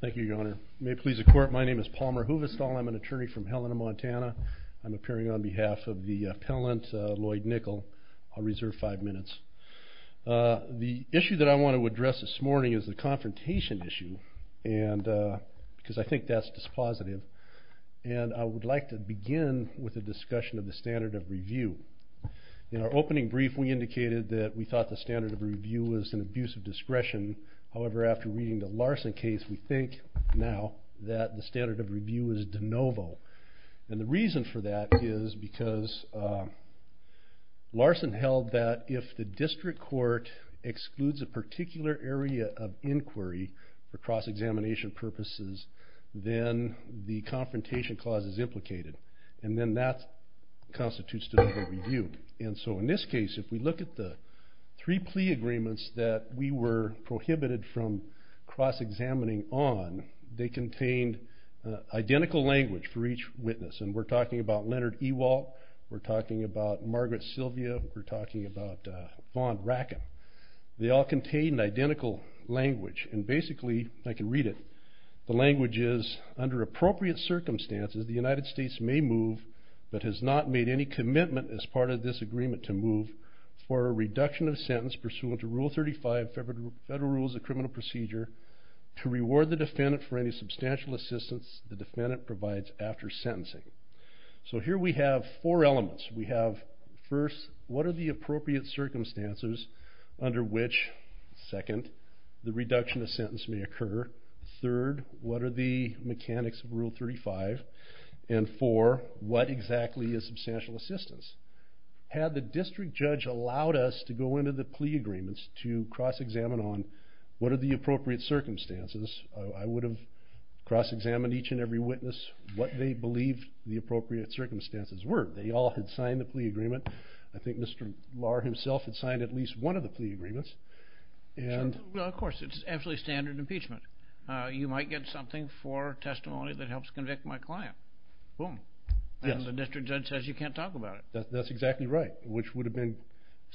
Thank you your honor. May it please the court, my name is Palmer Huvestal, I'm an attorney from Helena, Montana. I'm appearing on behalf of the appellant Lloyd Nickle. I'll reserve five minutes. The issue that I want to address this morning is the confrontation issue, because I think that's dispositive. And I would like to begin with a discussion of the standard of review. In our opening brief we indicated that we thought the standard of review was an abuse of discretion, however after reading the Larson case we think now that the standard of review is de novo. And the reason for that is because Larson held that if the district court excludes a particular area of inquiry for cross examination purposes, then the confrontation clause is implicated. And then that constitutes de novo review. And so in this case if we look at the three plea agreements that we were prohibited from cross examining on, they contained identical language for each witness. And we're talking about Leonard Ewald, we're talking about Margaret Sylvia, we're talking about Vaughn Rackham. They all contained identical language. And basically, I can read it, the language is, under appropriate circumstances the United States may move, but has not made any commitment as part of this agreement to move, for a reduction of sentence pursuant to Rule 35 Federal Rules of Criminal Procedure to reward the defendant for any substantial assistance the defendant provides after sentencing. So here we have four elements. We have, first, what are the appropriate circumstances under which, second, the reduction of sentence may occur, third, what are the mechanics of Rule 35, and four, what exactly is substantial assistance? Had the district judge allowed us to go into the plea agreements to cross examine on, what are the appropriate circumstances, I would have cross examined each and every witness, what they believed the appropriate circumstances were. They all had signed the plea agreement. I think Mr. Lahr himself had signed at least one of the plea agreements. Well, of course, it's absolutely standard impeachment. You might get something for testimony that helps convict my client. Boom. And the district judge says you can't talk about it. That's exactly right, which would have been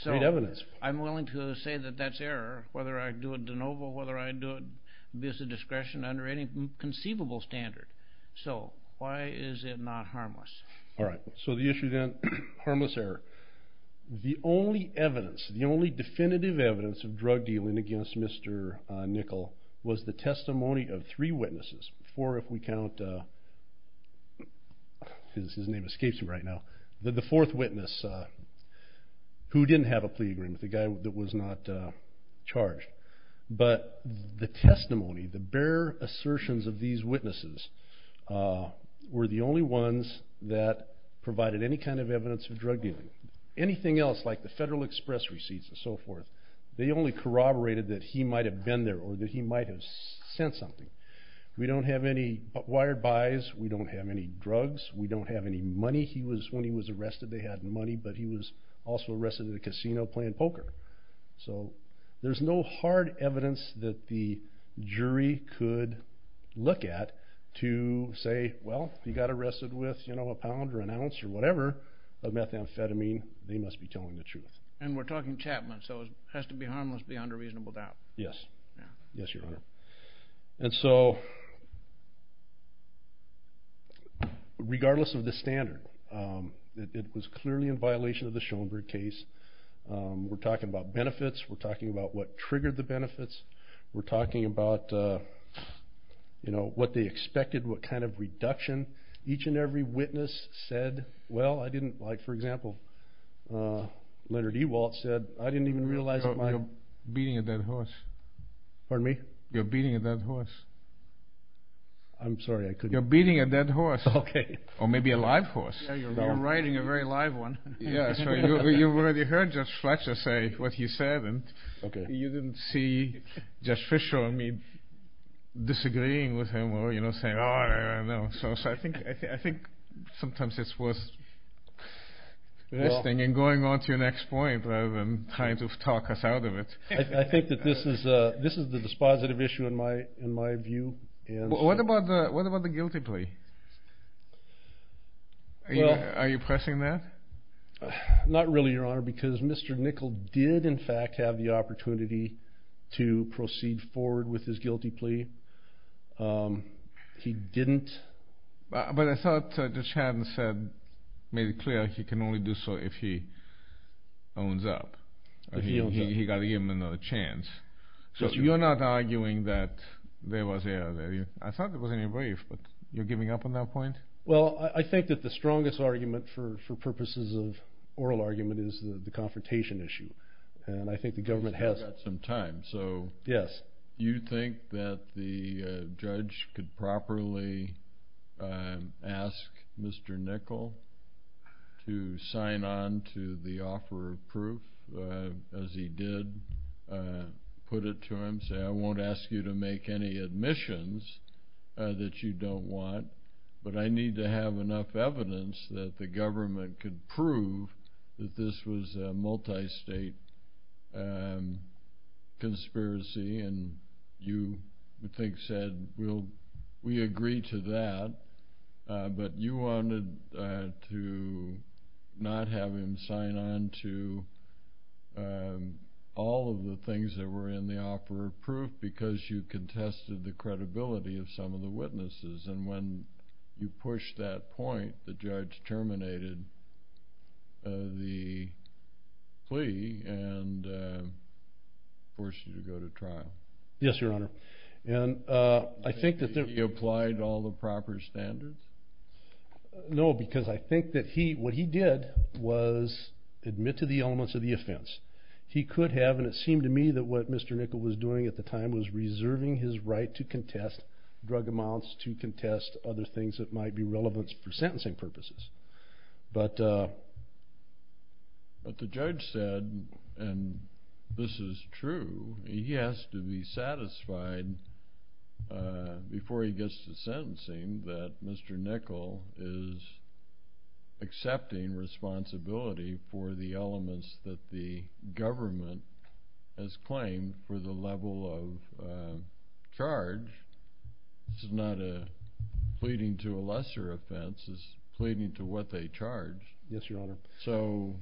great evidence. I'm willing to say that that's error, whether I do a de novo, whether I do abuse of discretion under any conceivable standard. So, why is it not harmless? All right, so the issue then, harmless error. The only evidence, the only definitive evidence of drug dealing against Mr. Nickel was the testimony of three witnesses, four if we count, his name escapes me right now, the fourth witness who didn't have a plea agreement, the guy that was not charged. But the testimony, the bare assertions of these witnesses were the only ones that provided any kind of evidence of drug dealing. Anything else, like the Federal Express receipts and so forth, they only corroborated that he might have been there or that he might have sent something. We don't have any wired buys. We don't have any drugs. We don't have any money. He was, when he was arrested, they had money, but he was also arrested in a casino playing poker. So, there's no hard evidence that the jury could look at to say, well, he got arrested with, you know, a pound or an ounce or whatever of methamphetamine. They must be telling the truth. And we're talking Chapman, so it has to be harmless beyond a reasonable doubt. Yes. Yes, Your Honor. And so, regardless of the standard, it was clearly in violation of the Schoenberg case. We're talking about benefits. We're talking about what triggered the benefits. We're talking about, you know, what they expected, what kind of reduction. Each and every witness said, well, I didn't like, for example, Leonard Ewaldt said, I didn't even realize that my- Pardon me? You're beating a dead horse. I'm sorry, I couldn't- You're beating a dead horse. Okay. Or maybe a live horse. Yeah, you're riding a very live one. Yeah, so you've already heard Judge Fletcher say what he said. Okay. And you didn't see Judge Fischer or me disagreeing with him or, you know, saying, oh, I don't know. So, I think sometimes it's worth listening and going on to your next point rather than trying to talk us out of it. I think that this is the dispositive issue in my view. What about the guilty plea? Are you pressing that? Not really, Your Honor, because Mr. Nickel did, in fact, have the opportunity to proceed forward with his guilty plea. He didn't- But I thought Judge Haddon said, made it clear he can only do so if he owns up. If he owns up. He got to give him another chance. So, you're not arguing that there was a- I thought it was in your brief, but you're giving up on that point? Well, I think that the strongest argument for purposes of oral argument is the confrontation issue. And I think the government has- You think that the judge could properly ask Mr. Nickel to sign on to the offer of proof, as he did put it to him, say, I won't ask you to make any admissions that you don't want, but I need to have enough evidence that the government can prove that this was a multi-state conspiracy. And you, I think, said, we agree to that, but you wanted to not have him sign on to all of the things that were in the offer of proof because you contested the credibility of some of the witnesses. And when you pushed that point, the judge terminated the plea and forced you to go to trial. Yes, Your Honor. And I think that- You think he applied all the proper standards? No, because I think that he- what he did was admit to the elements of the offense. He could have, and it seemed to me that what Mr. Nickel was doing at the time was reserving his right to contest drug amounts, to contest other things that might be relevant for sentencing purposes. But the judge said, and this is true, he has to be satisfied before he gets to sentencing that Mr. Nickel is accepting responsibility for the elements that the government has claimed for the level of charge. This is not a pleading to a lesser offense. This is pleading to what they charge. Yes, Your Honor. So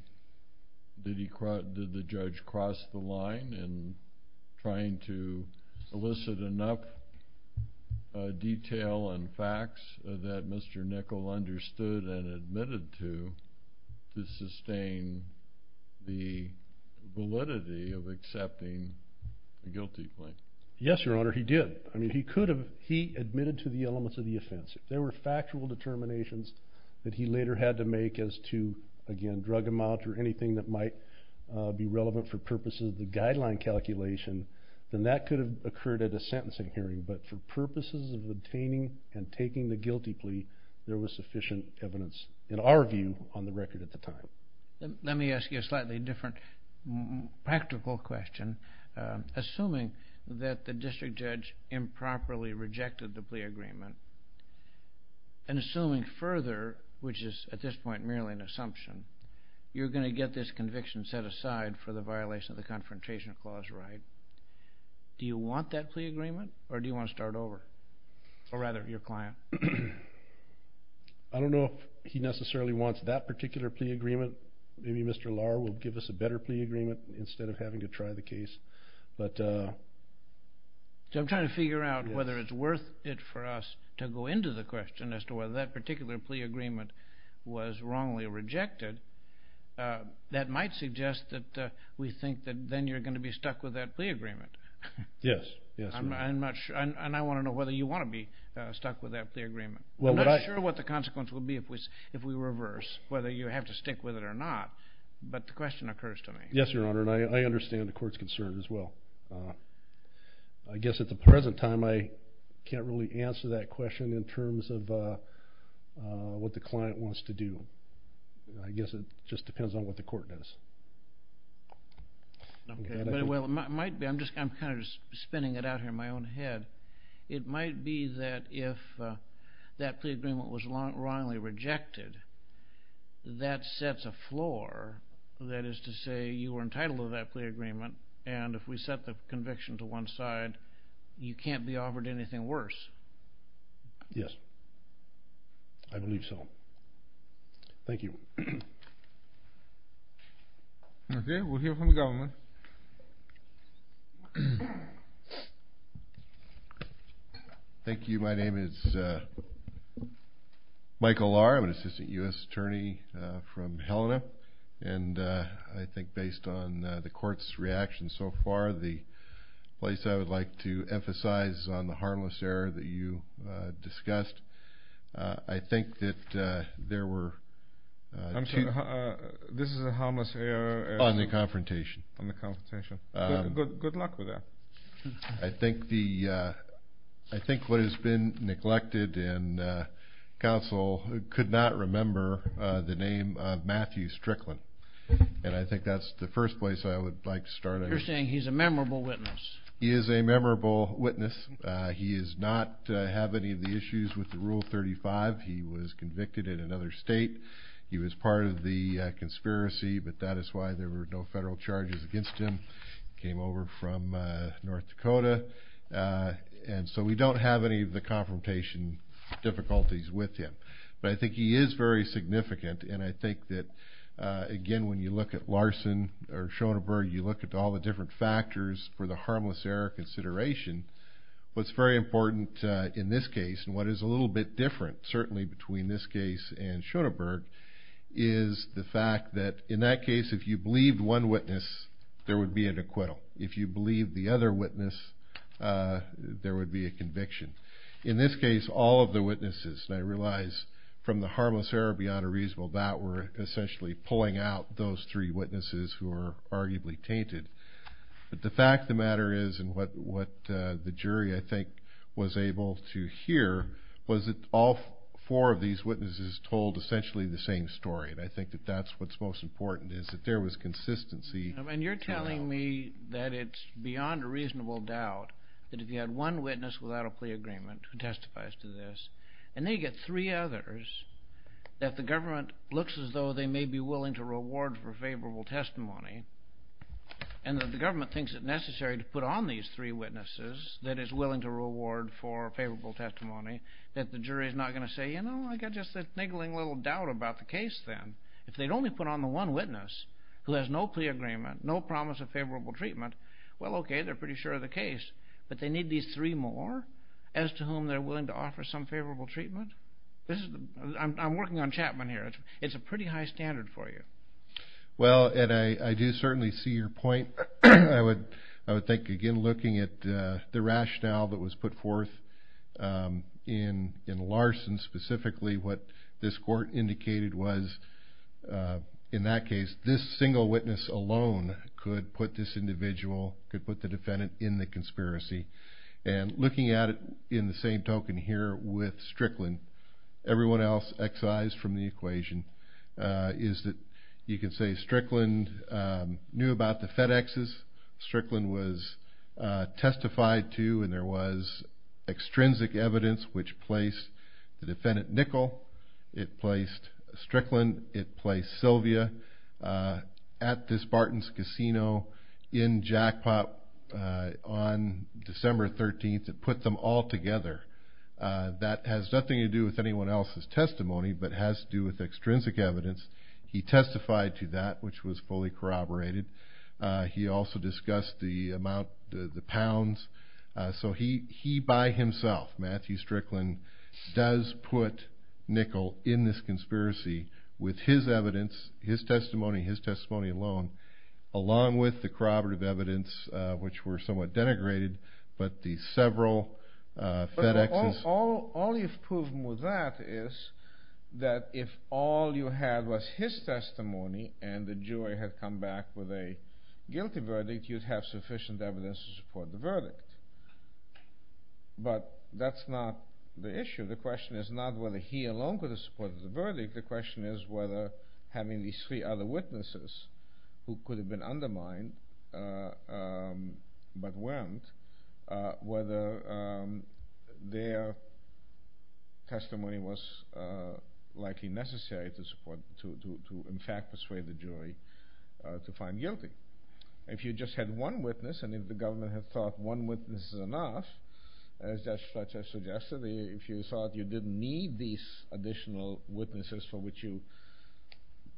did the judge cross the line in trying to elicit enough detail and facts that Mr. Nickel understood and admitted to to sustain the validity of accepting a guilty plea? Yes, Your Honor, he did. I mean, he could have- he admitted to the elements of the offense. If there were factual determinations that he later had to make as to, again, drug amounts or anything that might be relevant for purposes of the guideline calculation, then that could have occurred at a sentencing hearing. But for purposes of obtaining and taking the guilty plea, there was sufficient evidence, in our view, on the record at the time. Let me ask you a slightly different practical question. Assuming that the district judge improperly rejected the plea agreement, and assuming further, which is at this point merely an assumption, you're going to get this conviction set aside for the violation of the Confrontation Clause, right? Do you want that plea agreement, or do you want to start over? Or rather, your client. I don't know if he necessarily wants that particular plea agreement. Maybe Mr. Lahr will give us a better plea agreement instead of having to try the case. I'm trying to figure out whether it's worth it for us to go into the question as to whether that particular plea agreement was wrongly rejected. That might suggest that we think that then you're going to be stuck with that plea agreement. Yes. And I want to know whether you want to be stuck with that plea agreement. I'm not sure what the consequence will be if we reverse, whether you have to stick with it or not, but the question occurs to me. Yes, Your Honor, and I understand the court's concern as well. I guess at the present time, I can't really answer that question in terms of what the client wants to do. I guess it just depends on what the court does. Okay. Well, it might be. I'm kind of just spinning it out here in my own head. It might be that if that plea agreement was wrongly rejected, that sets a floor, that is to say you were entitled to that plea agreement, and if we set the conviction to one side, you can't be offered anything worse. Yes. I believe so. Thank you. Okay. We'll hear from the government. Thank you. My name is Michael Lahr. I'm an assistant U.S. attorney from Helena, and I think based on the court's reaction so far, the place I would like to emphasize on the harmless error that you discussed, I think that there were two. This is a harmless error? On the confrontation. On the confrontation. Good luck with that. I think what has been neglected in counsel could not remember the name of Matthew Strickland, and I think that's the first place I would like to start. You're saying he's a memorable witness. He is a memorable witness. He does not have any of the issues with Rule 35. He was convicted in another state. He was part of the conspiracy, but that is why there were no federal charges against him. He came over from North Dakota, and so we don't have any of the confrontation difficulties with him. But I think he is very significant, and I think that, again, when you look at Larson or Schoeneberg, you look at all the different factors for the harmless error consideration, what's very important in this case and what is a little bit different, certainly, between this case and Schoeneberg is the fact that, in that case, if you believed one witness, there would be an acquittal. If you believed the other witness, there would be a conviction. In this case, all of the witnesses, and I realize from the harmless error beyond a reasonable doubt, were essentially pulling out those three witnesses who were arguably tainted. But the fact of the matter is, and what the jury, I think, was able to hear, was that all four of these witnesses told essentially the same story, and I think that that's what's most important is that there was consistency. And you're telling me that it's beyond a reasonable doubt that if you had one witness without a plea agreement who testifies to this, and then you get three others, that the government looks as though they may be willing to reward for favorable testimony, and that the government thinks it necessary to put on these three witnesses that is willing to reward for favorable testimony, that the jury is not going to say, you know, I've got just a niggling little doubt about the case then. If they'd only put on the one witness who has no plea agreement, no promise of favorable treatment, well, okay, they're pretty sure of the case, but they need these three more as to whom they're willing to offer some favorable treatment? I'm working on Chapman here. It's a pretty high standard for you. Well, Ed, I do certainly see your point. I would think, again, looking at the rationale that was put forth in Larson specifically, what this court indicated was in that case this single witness alone could put this individual, could put the defendant in the conspiracy. And looking at it in the same token here with Strickland, everyone else excised from the equation, is that you could say Strickland knew about the FedExes, Strickland was testified to, and there was extrinsic evidence which placed the defendant Nickel, it placed Strickland, it placed Sylvia at this Barton's Casino in Jackpot on December 13th. It put them all together. That has nothing to do with anyone else's testimony but has to do with extrinsic evidence. He testified to that, which was fully corroborated. He also discussed the amount, the pounds. So he by himself, Matthew Strickland, does put Nickel in this conspiracy with his evidence, his testimony, his testimony alone, along with the corroborative evidence, which were somewhat denigrated, but the several FedExes. All you've proven with that is that if all you had was his testimony and the jury had come back with a guilty verdict, you'd have sufficient evidence to support the verdict. But that's not the issue. The question is not whether he alone could have supported the verdict. The question is whether having these three other witnesses who could have been undermined but weren't, whether their testimony was likely necessary to in fact persuade the jury to find guilty. If you just had one witness and if the government had thought one witness is enough, as Judge Fletcher suggested, if you thought you didn't need these additional witnesses for which you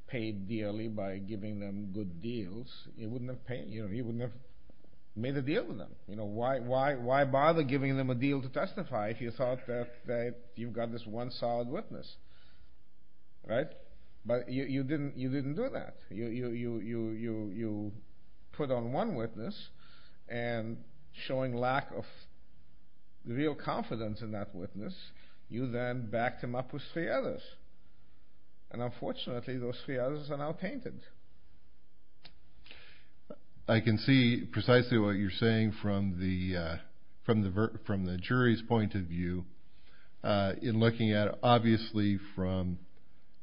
paid dearly by giving them good deals, you wouldn't have made a deal with them. Why bother giving them a deal to testify if you thought that you've got this one solid witness? But you didn't do that. You put on one witness and showing lack of real confidence in that witness, you then backed him up with three others. And unfortunately, those three others are now tainted. I can see precisely what you're saying from the jury's point of view in looking at it. Obviously, from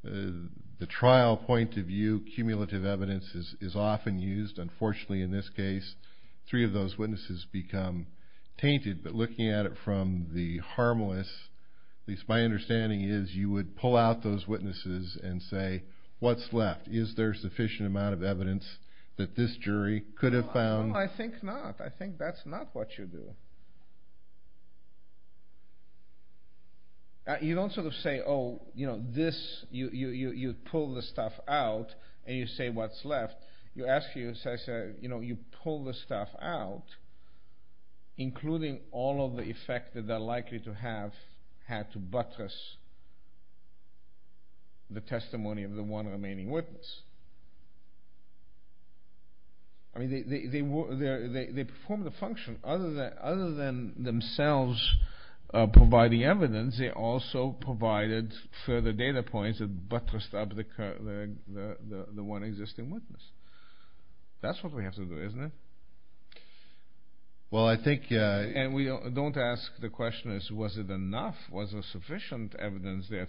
the trial point of view, cumulative evidence is often used. Unfortunately, in this case, three of those witnesses become tainted. But looking at it from the harmless, at least my understanding is you would pull out those witnesses and say, what's left? Is there sufficient amount of evidence that this jury could have found? No, I think not. I think that's not what you do. You don't sort of say, oh, you pull the stuff out and you say what's left. You ask, you pull the stuff out, including all of the effect that they're likely to have had to buttress the testimony of the one remaining witness. I mean, they performed the function. Other than themselves providing evidence, they also provided further data points to buttress up the one existing witness. That's what we have to do, isn't it? And we don't ask the question, was it enough? Was there sufficient evidence there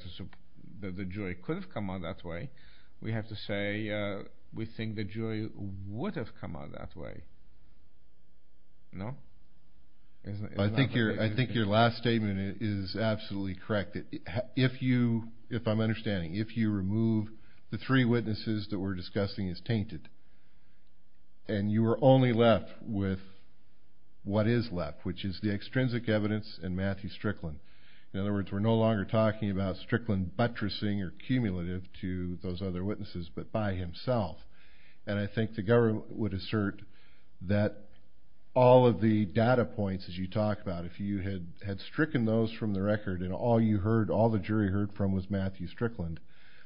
that the jury could have come out that way? We have to say we think the jury would have come out that way. No? I think your last statement is absolutely correct. If you remove the three witnesses that we're discussing as tainted and you are only left with what is left, which is the extrinsic evidence and Matthew Strickland. In other words, we're no longer talking about Strickland buttressing or cumulative to those other witnesses but by himself. And I think the government would assert that all of the data points that you talk about, if you had stricken those from the record and all you heard, all the jury heard from was Matthew Strickland,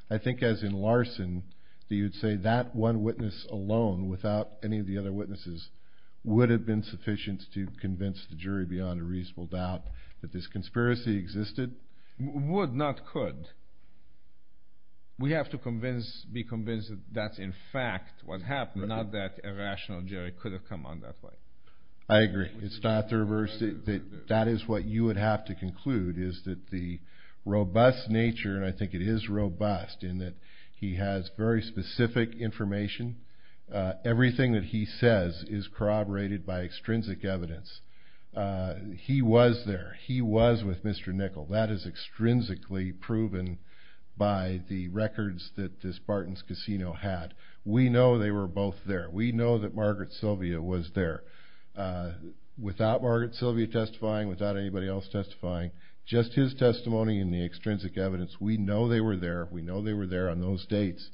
I think as in Larson you'd say that one witness alone without any of the other witnesses would have been sufficient to convince the jury beyond a reasonable doubt that this conspiracy existed? Would, not could. We have to be convinced that that's in fact what happened, not that a rational jury could have come out that way. I agree. It's not the reverse. That is what you would have to conclude is that the robust nature, and I think it is robust in that he has very specific information. Everything that he says is corroborated by extrinsic evidence. He was there. He was with Mr. Nickel. That is extrinsically proven by the records that this Barton's Casino had. We know they were both there. We know that Margaret Sylvia was there. Without Margaret Sylvia testifying, without anybody else testifying, just his testimony and the extrinsic evidence, we know they were there. We know they were there on those dates.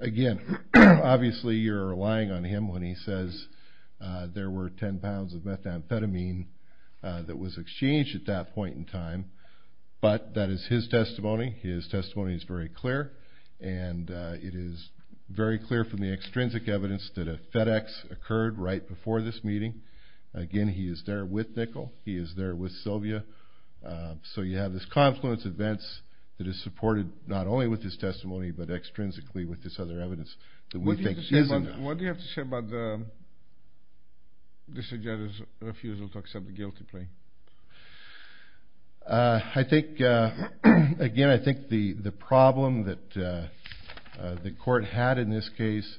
Again, obviously you're relying on him when he says there were 10 pounds of methamphetamine that was exchanged at that point in time, but that is his testimony. His testimony is very clear, and it is very clear from the extrinsic evidence that a FedEx occurred right before this meeting. Again, he is there with Nickel. He is there with Sylvia. So you have this confluence of events that is supported not only with his testimony but extrinsically with this other evidence that we think isn't. What do you have to say about this judge's refusal to accept the guilty plea? I think, again, I think the problem that the court had in this case,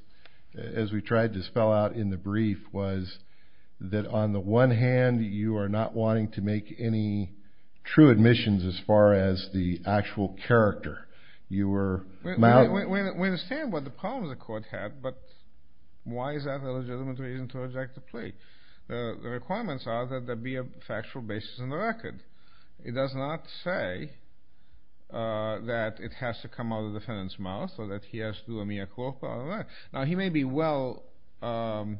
as we tried to spell out in the brief, was that on the one hand you are not wanting to make any true admissions as far as the actual character. We understand what the problems the court had, but why is that an illegitimate reason to reject the plea? The requirements are that there be a factual basis in the record. It does not say that it has to come out of the defendant's mouth or that he has to do a mea culpa. Now, he may be well advised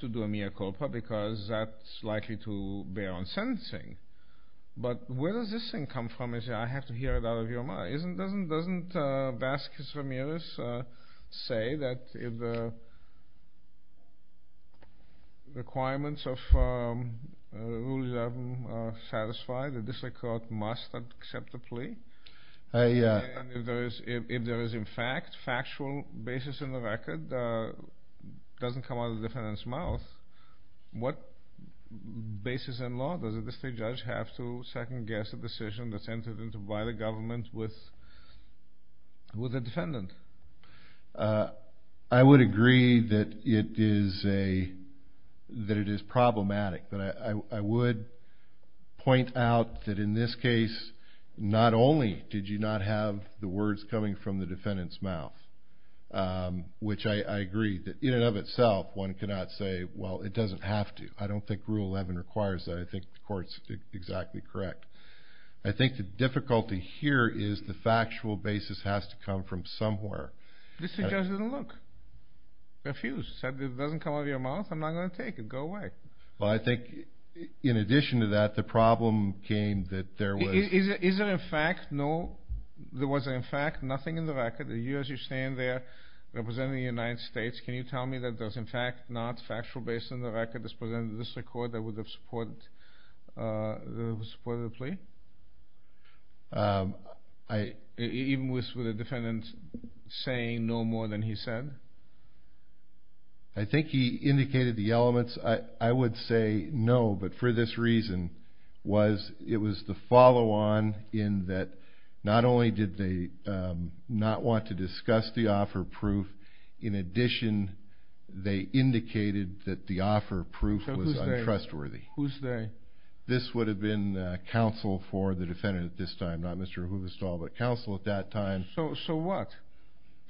to do a mea culpa because that's likely to bear on sentencing, but where does this thing come from? I have to hear it out of your mouth. Doesn't Vasquez Ramirez say that the requirements of Rule 11 are satisfied that this court must accept the plea? If there is, in fact, factual basis in the record, it doesn't come out of the defendant's mouth, what basis in law does the state judge have to second-guess a decision that's entered into by the government with a defendant? I would agree that it is problematic, but I would point out that in this case not only did you not have the words coming from the defendant's mouth, which I agree that in and of itself one cannot say, well, it doesn't have to. I don't think Rule 11 requires that. I think the court's exactly correct. I think the difficulty here is the factual basis has to come from somewhere. This is just a look. Refuse. It doesn't come out of your mouth? I'm not going to take it. Go away. Well, I think in addition to that, the problem came that there was... Is there, in fact, no... There was, in fact, nothing in the record. You, as you stand there representing the United States, can you tell me that there's, in fact, not factual basis in the record that would have supported the plea? Even with the defendant saying no more than he said? I think he indicated the elements. I would say no, but for this reason, it was the follow-on in that not only did they not want to discuss the offer but their proof was untrustworthy. Whose they? This would have been counsel for the defendant at this time, not Mr. Huvestal, but counsel at that time. So what?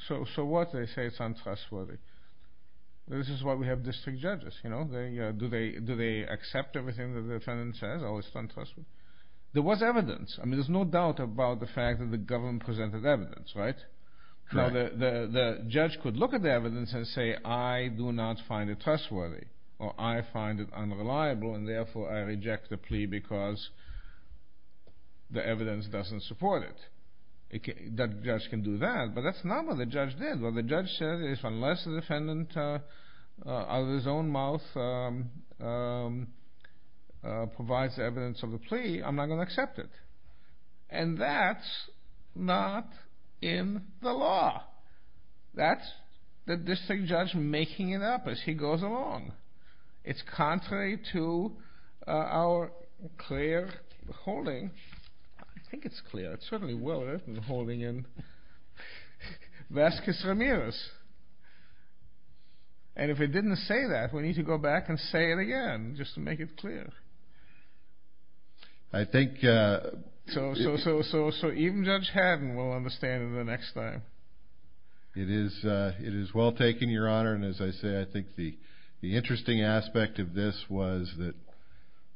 So what if they say it's untrustworthy? This is why we have district judges. Do they accept everything that the defendant says? Oh, it's untrustworthy? There was evidence. I mean, there's no doubt about the fact that the government presented evidence, right? The judge could look at the evidence and say, I do not find it trustworthy or I find it unreliable, and therefore I reject the plea because the evidence doesn't support it. That judge can do that, but that's not what the judge did. What the judge said is unless the defendant, out of his own mouth, provides evidence of the plea, I'm not going to accept it. And that's not in the law. That's the district judge making it up as he goes along. It's contrary to our clear holding. I think it's clear. It's certainly well written, holding in Vasquez Ramirez. And if it didn't say that, we need to go back and say it again just to make it clear. So even Judge Haddon will understand it the next time. It is well taken, Your Honor. And as I say, I think the interesting aspect of this was that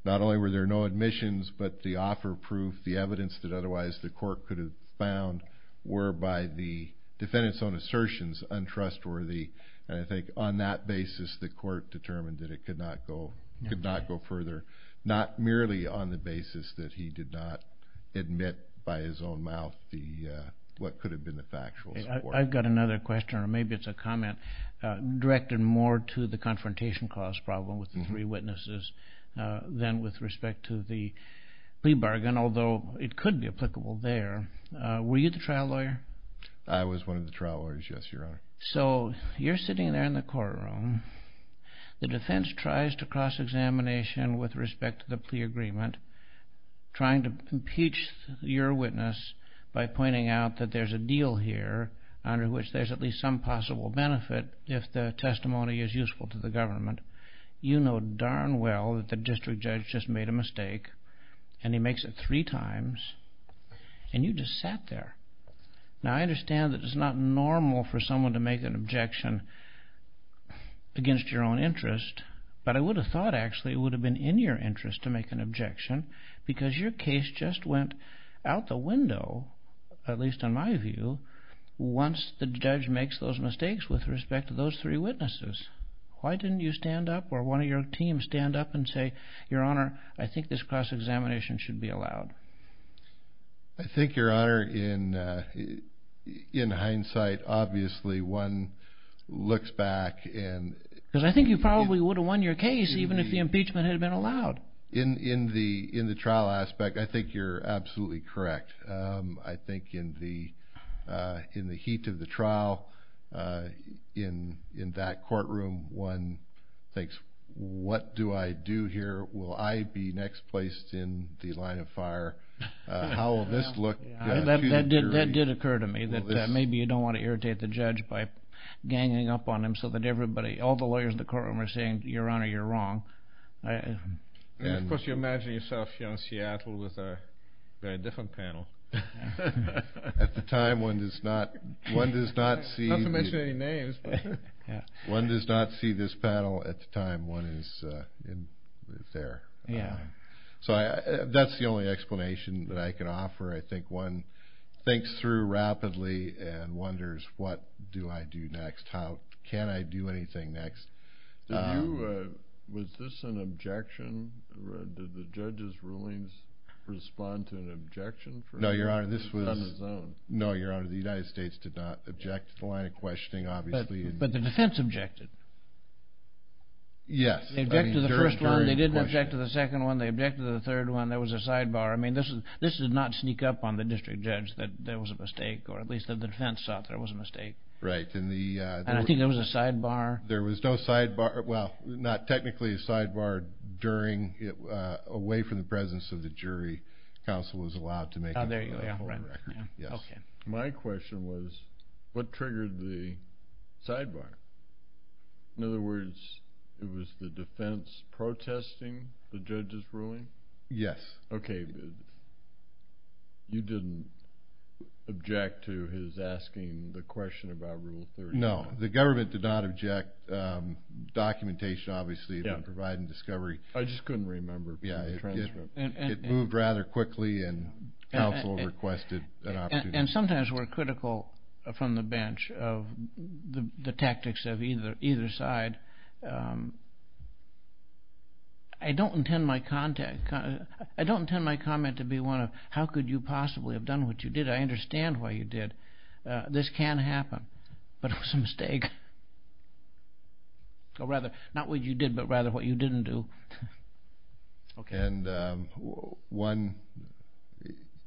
not only were there no admissions, but the offer proof, the evidence that otherwise the court could have found, were by the defendant's own assertions untrustworthy. And I think on that basis the court determined that it could not go further, not merely on the basis that he did not admit by his own mouth what could have been the factual support. I've got another question, or maybe it's a comment, directed more to the confrontation cause problem with the three witnesses than with respect to the plea bargain, although it could be applicable there. Were you the trial lawyer? I was one of the trial lawyers, yes, Your Honor. So you're sitting there in the courtroom. The defense tries to cross-examination with respect to the plea agreement, trying to impeach your witness by pointing out that there's a deal here under which there's at least some possible benefit if the testimony is useful to the government. You know darn well that the district judge just made a mistake, and he makes it three times, and you just sat there. Now I understand that it's not normal for someone to make an objection against your own interest, but I would have thought actually it would have been in your interest to make an objection because your case just went out the window, at least in my view, once the judge makes those mistakes with respect to those three witnesses. Why didn't you stand up or one of your team stand up and say, Your Honor, I think this cross-examination should be allowed? I think, Your Honor, in hindsight, obviously one looks back and— Because I think you probably would have won your case even if the impeachment had been allowed. In the trial aspect, I think you're absolutely correct. I think in the heat of the trial, in that courtroom, one thinks, What do I do here? Will I be next placed in the line of fire? How will this look? That did occur to me that maybe you don't want to irritate the judge by ganging up on him so that everybody, all the lawyers in the courtroom are saying, Your Honor, you're wrong. Of course you imagine yourself here in Seattle with a very different panel. At the time, one does not see— Not to mention any names. One does not see this panel at the time one is there. That's the only explanation that I can offer. I think one thinks through rapidly and wonders, What do I do next? How can I do anything next? Was this an objection? Did the judge's rulings respond to an objection? No, Your Honor. No, Your Honor. The United States did not object to the line of questioning, obviously. But the defense objected. Yes. They objected to the first one. They didn't object to the second one. They objected to the third one. There was a sidebar. I mean, this did not sneak up on the district judge that there was a mistake, or at least that the defense thought there was a mistake. Right. And I think there was a sidebar. There was no sidebar—well, not technically a sidebar. Away from the presence of the jury, counsel was allowed to make a record. Oh, there you go. Yes. My question was, What triggered the sidebar? In other words, it was the defense protesting the judge's ruling? Yes. Okay. You didn't object to his asking the question about Rule 30? No, the government did not object. Documentation, obviously, and providing discovery. I just couldn't remember. It moved rather quickly, and counsel requested an opportunity. And sometimes we're critical from the bench of the tactics of either side. I don't intend my comment to be one of, How could you possibly have done what you did? I understand why you did. This can happen, but it was a mistake. Or rather, not what you did, but rather what you didn't do. And one,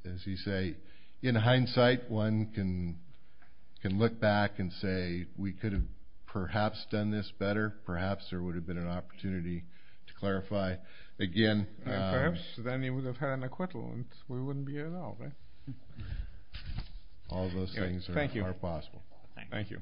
as you say, in hindsight, one can look back and say, We could have perhaps done this better. Perhaps there would have been an opportunity to clarify. Again— Perhaps then he would have had an acquittal, and we wouldn't be here now, right? All those things are possible. Thank you.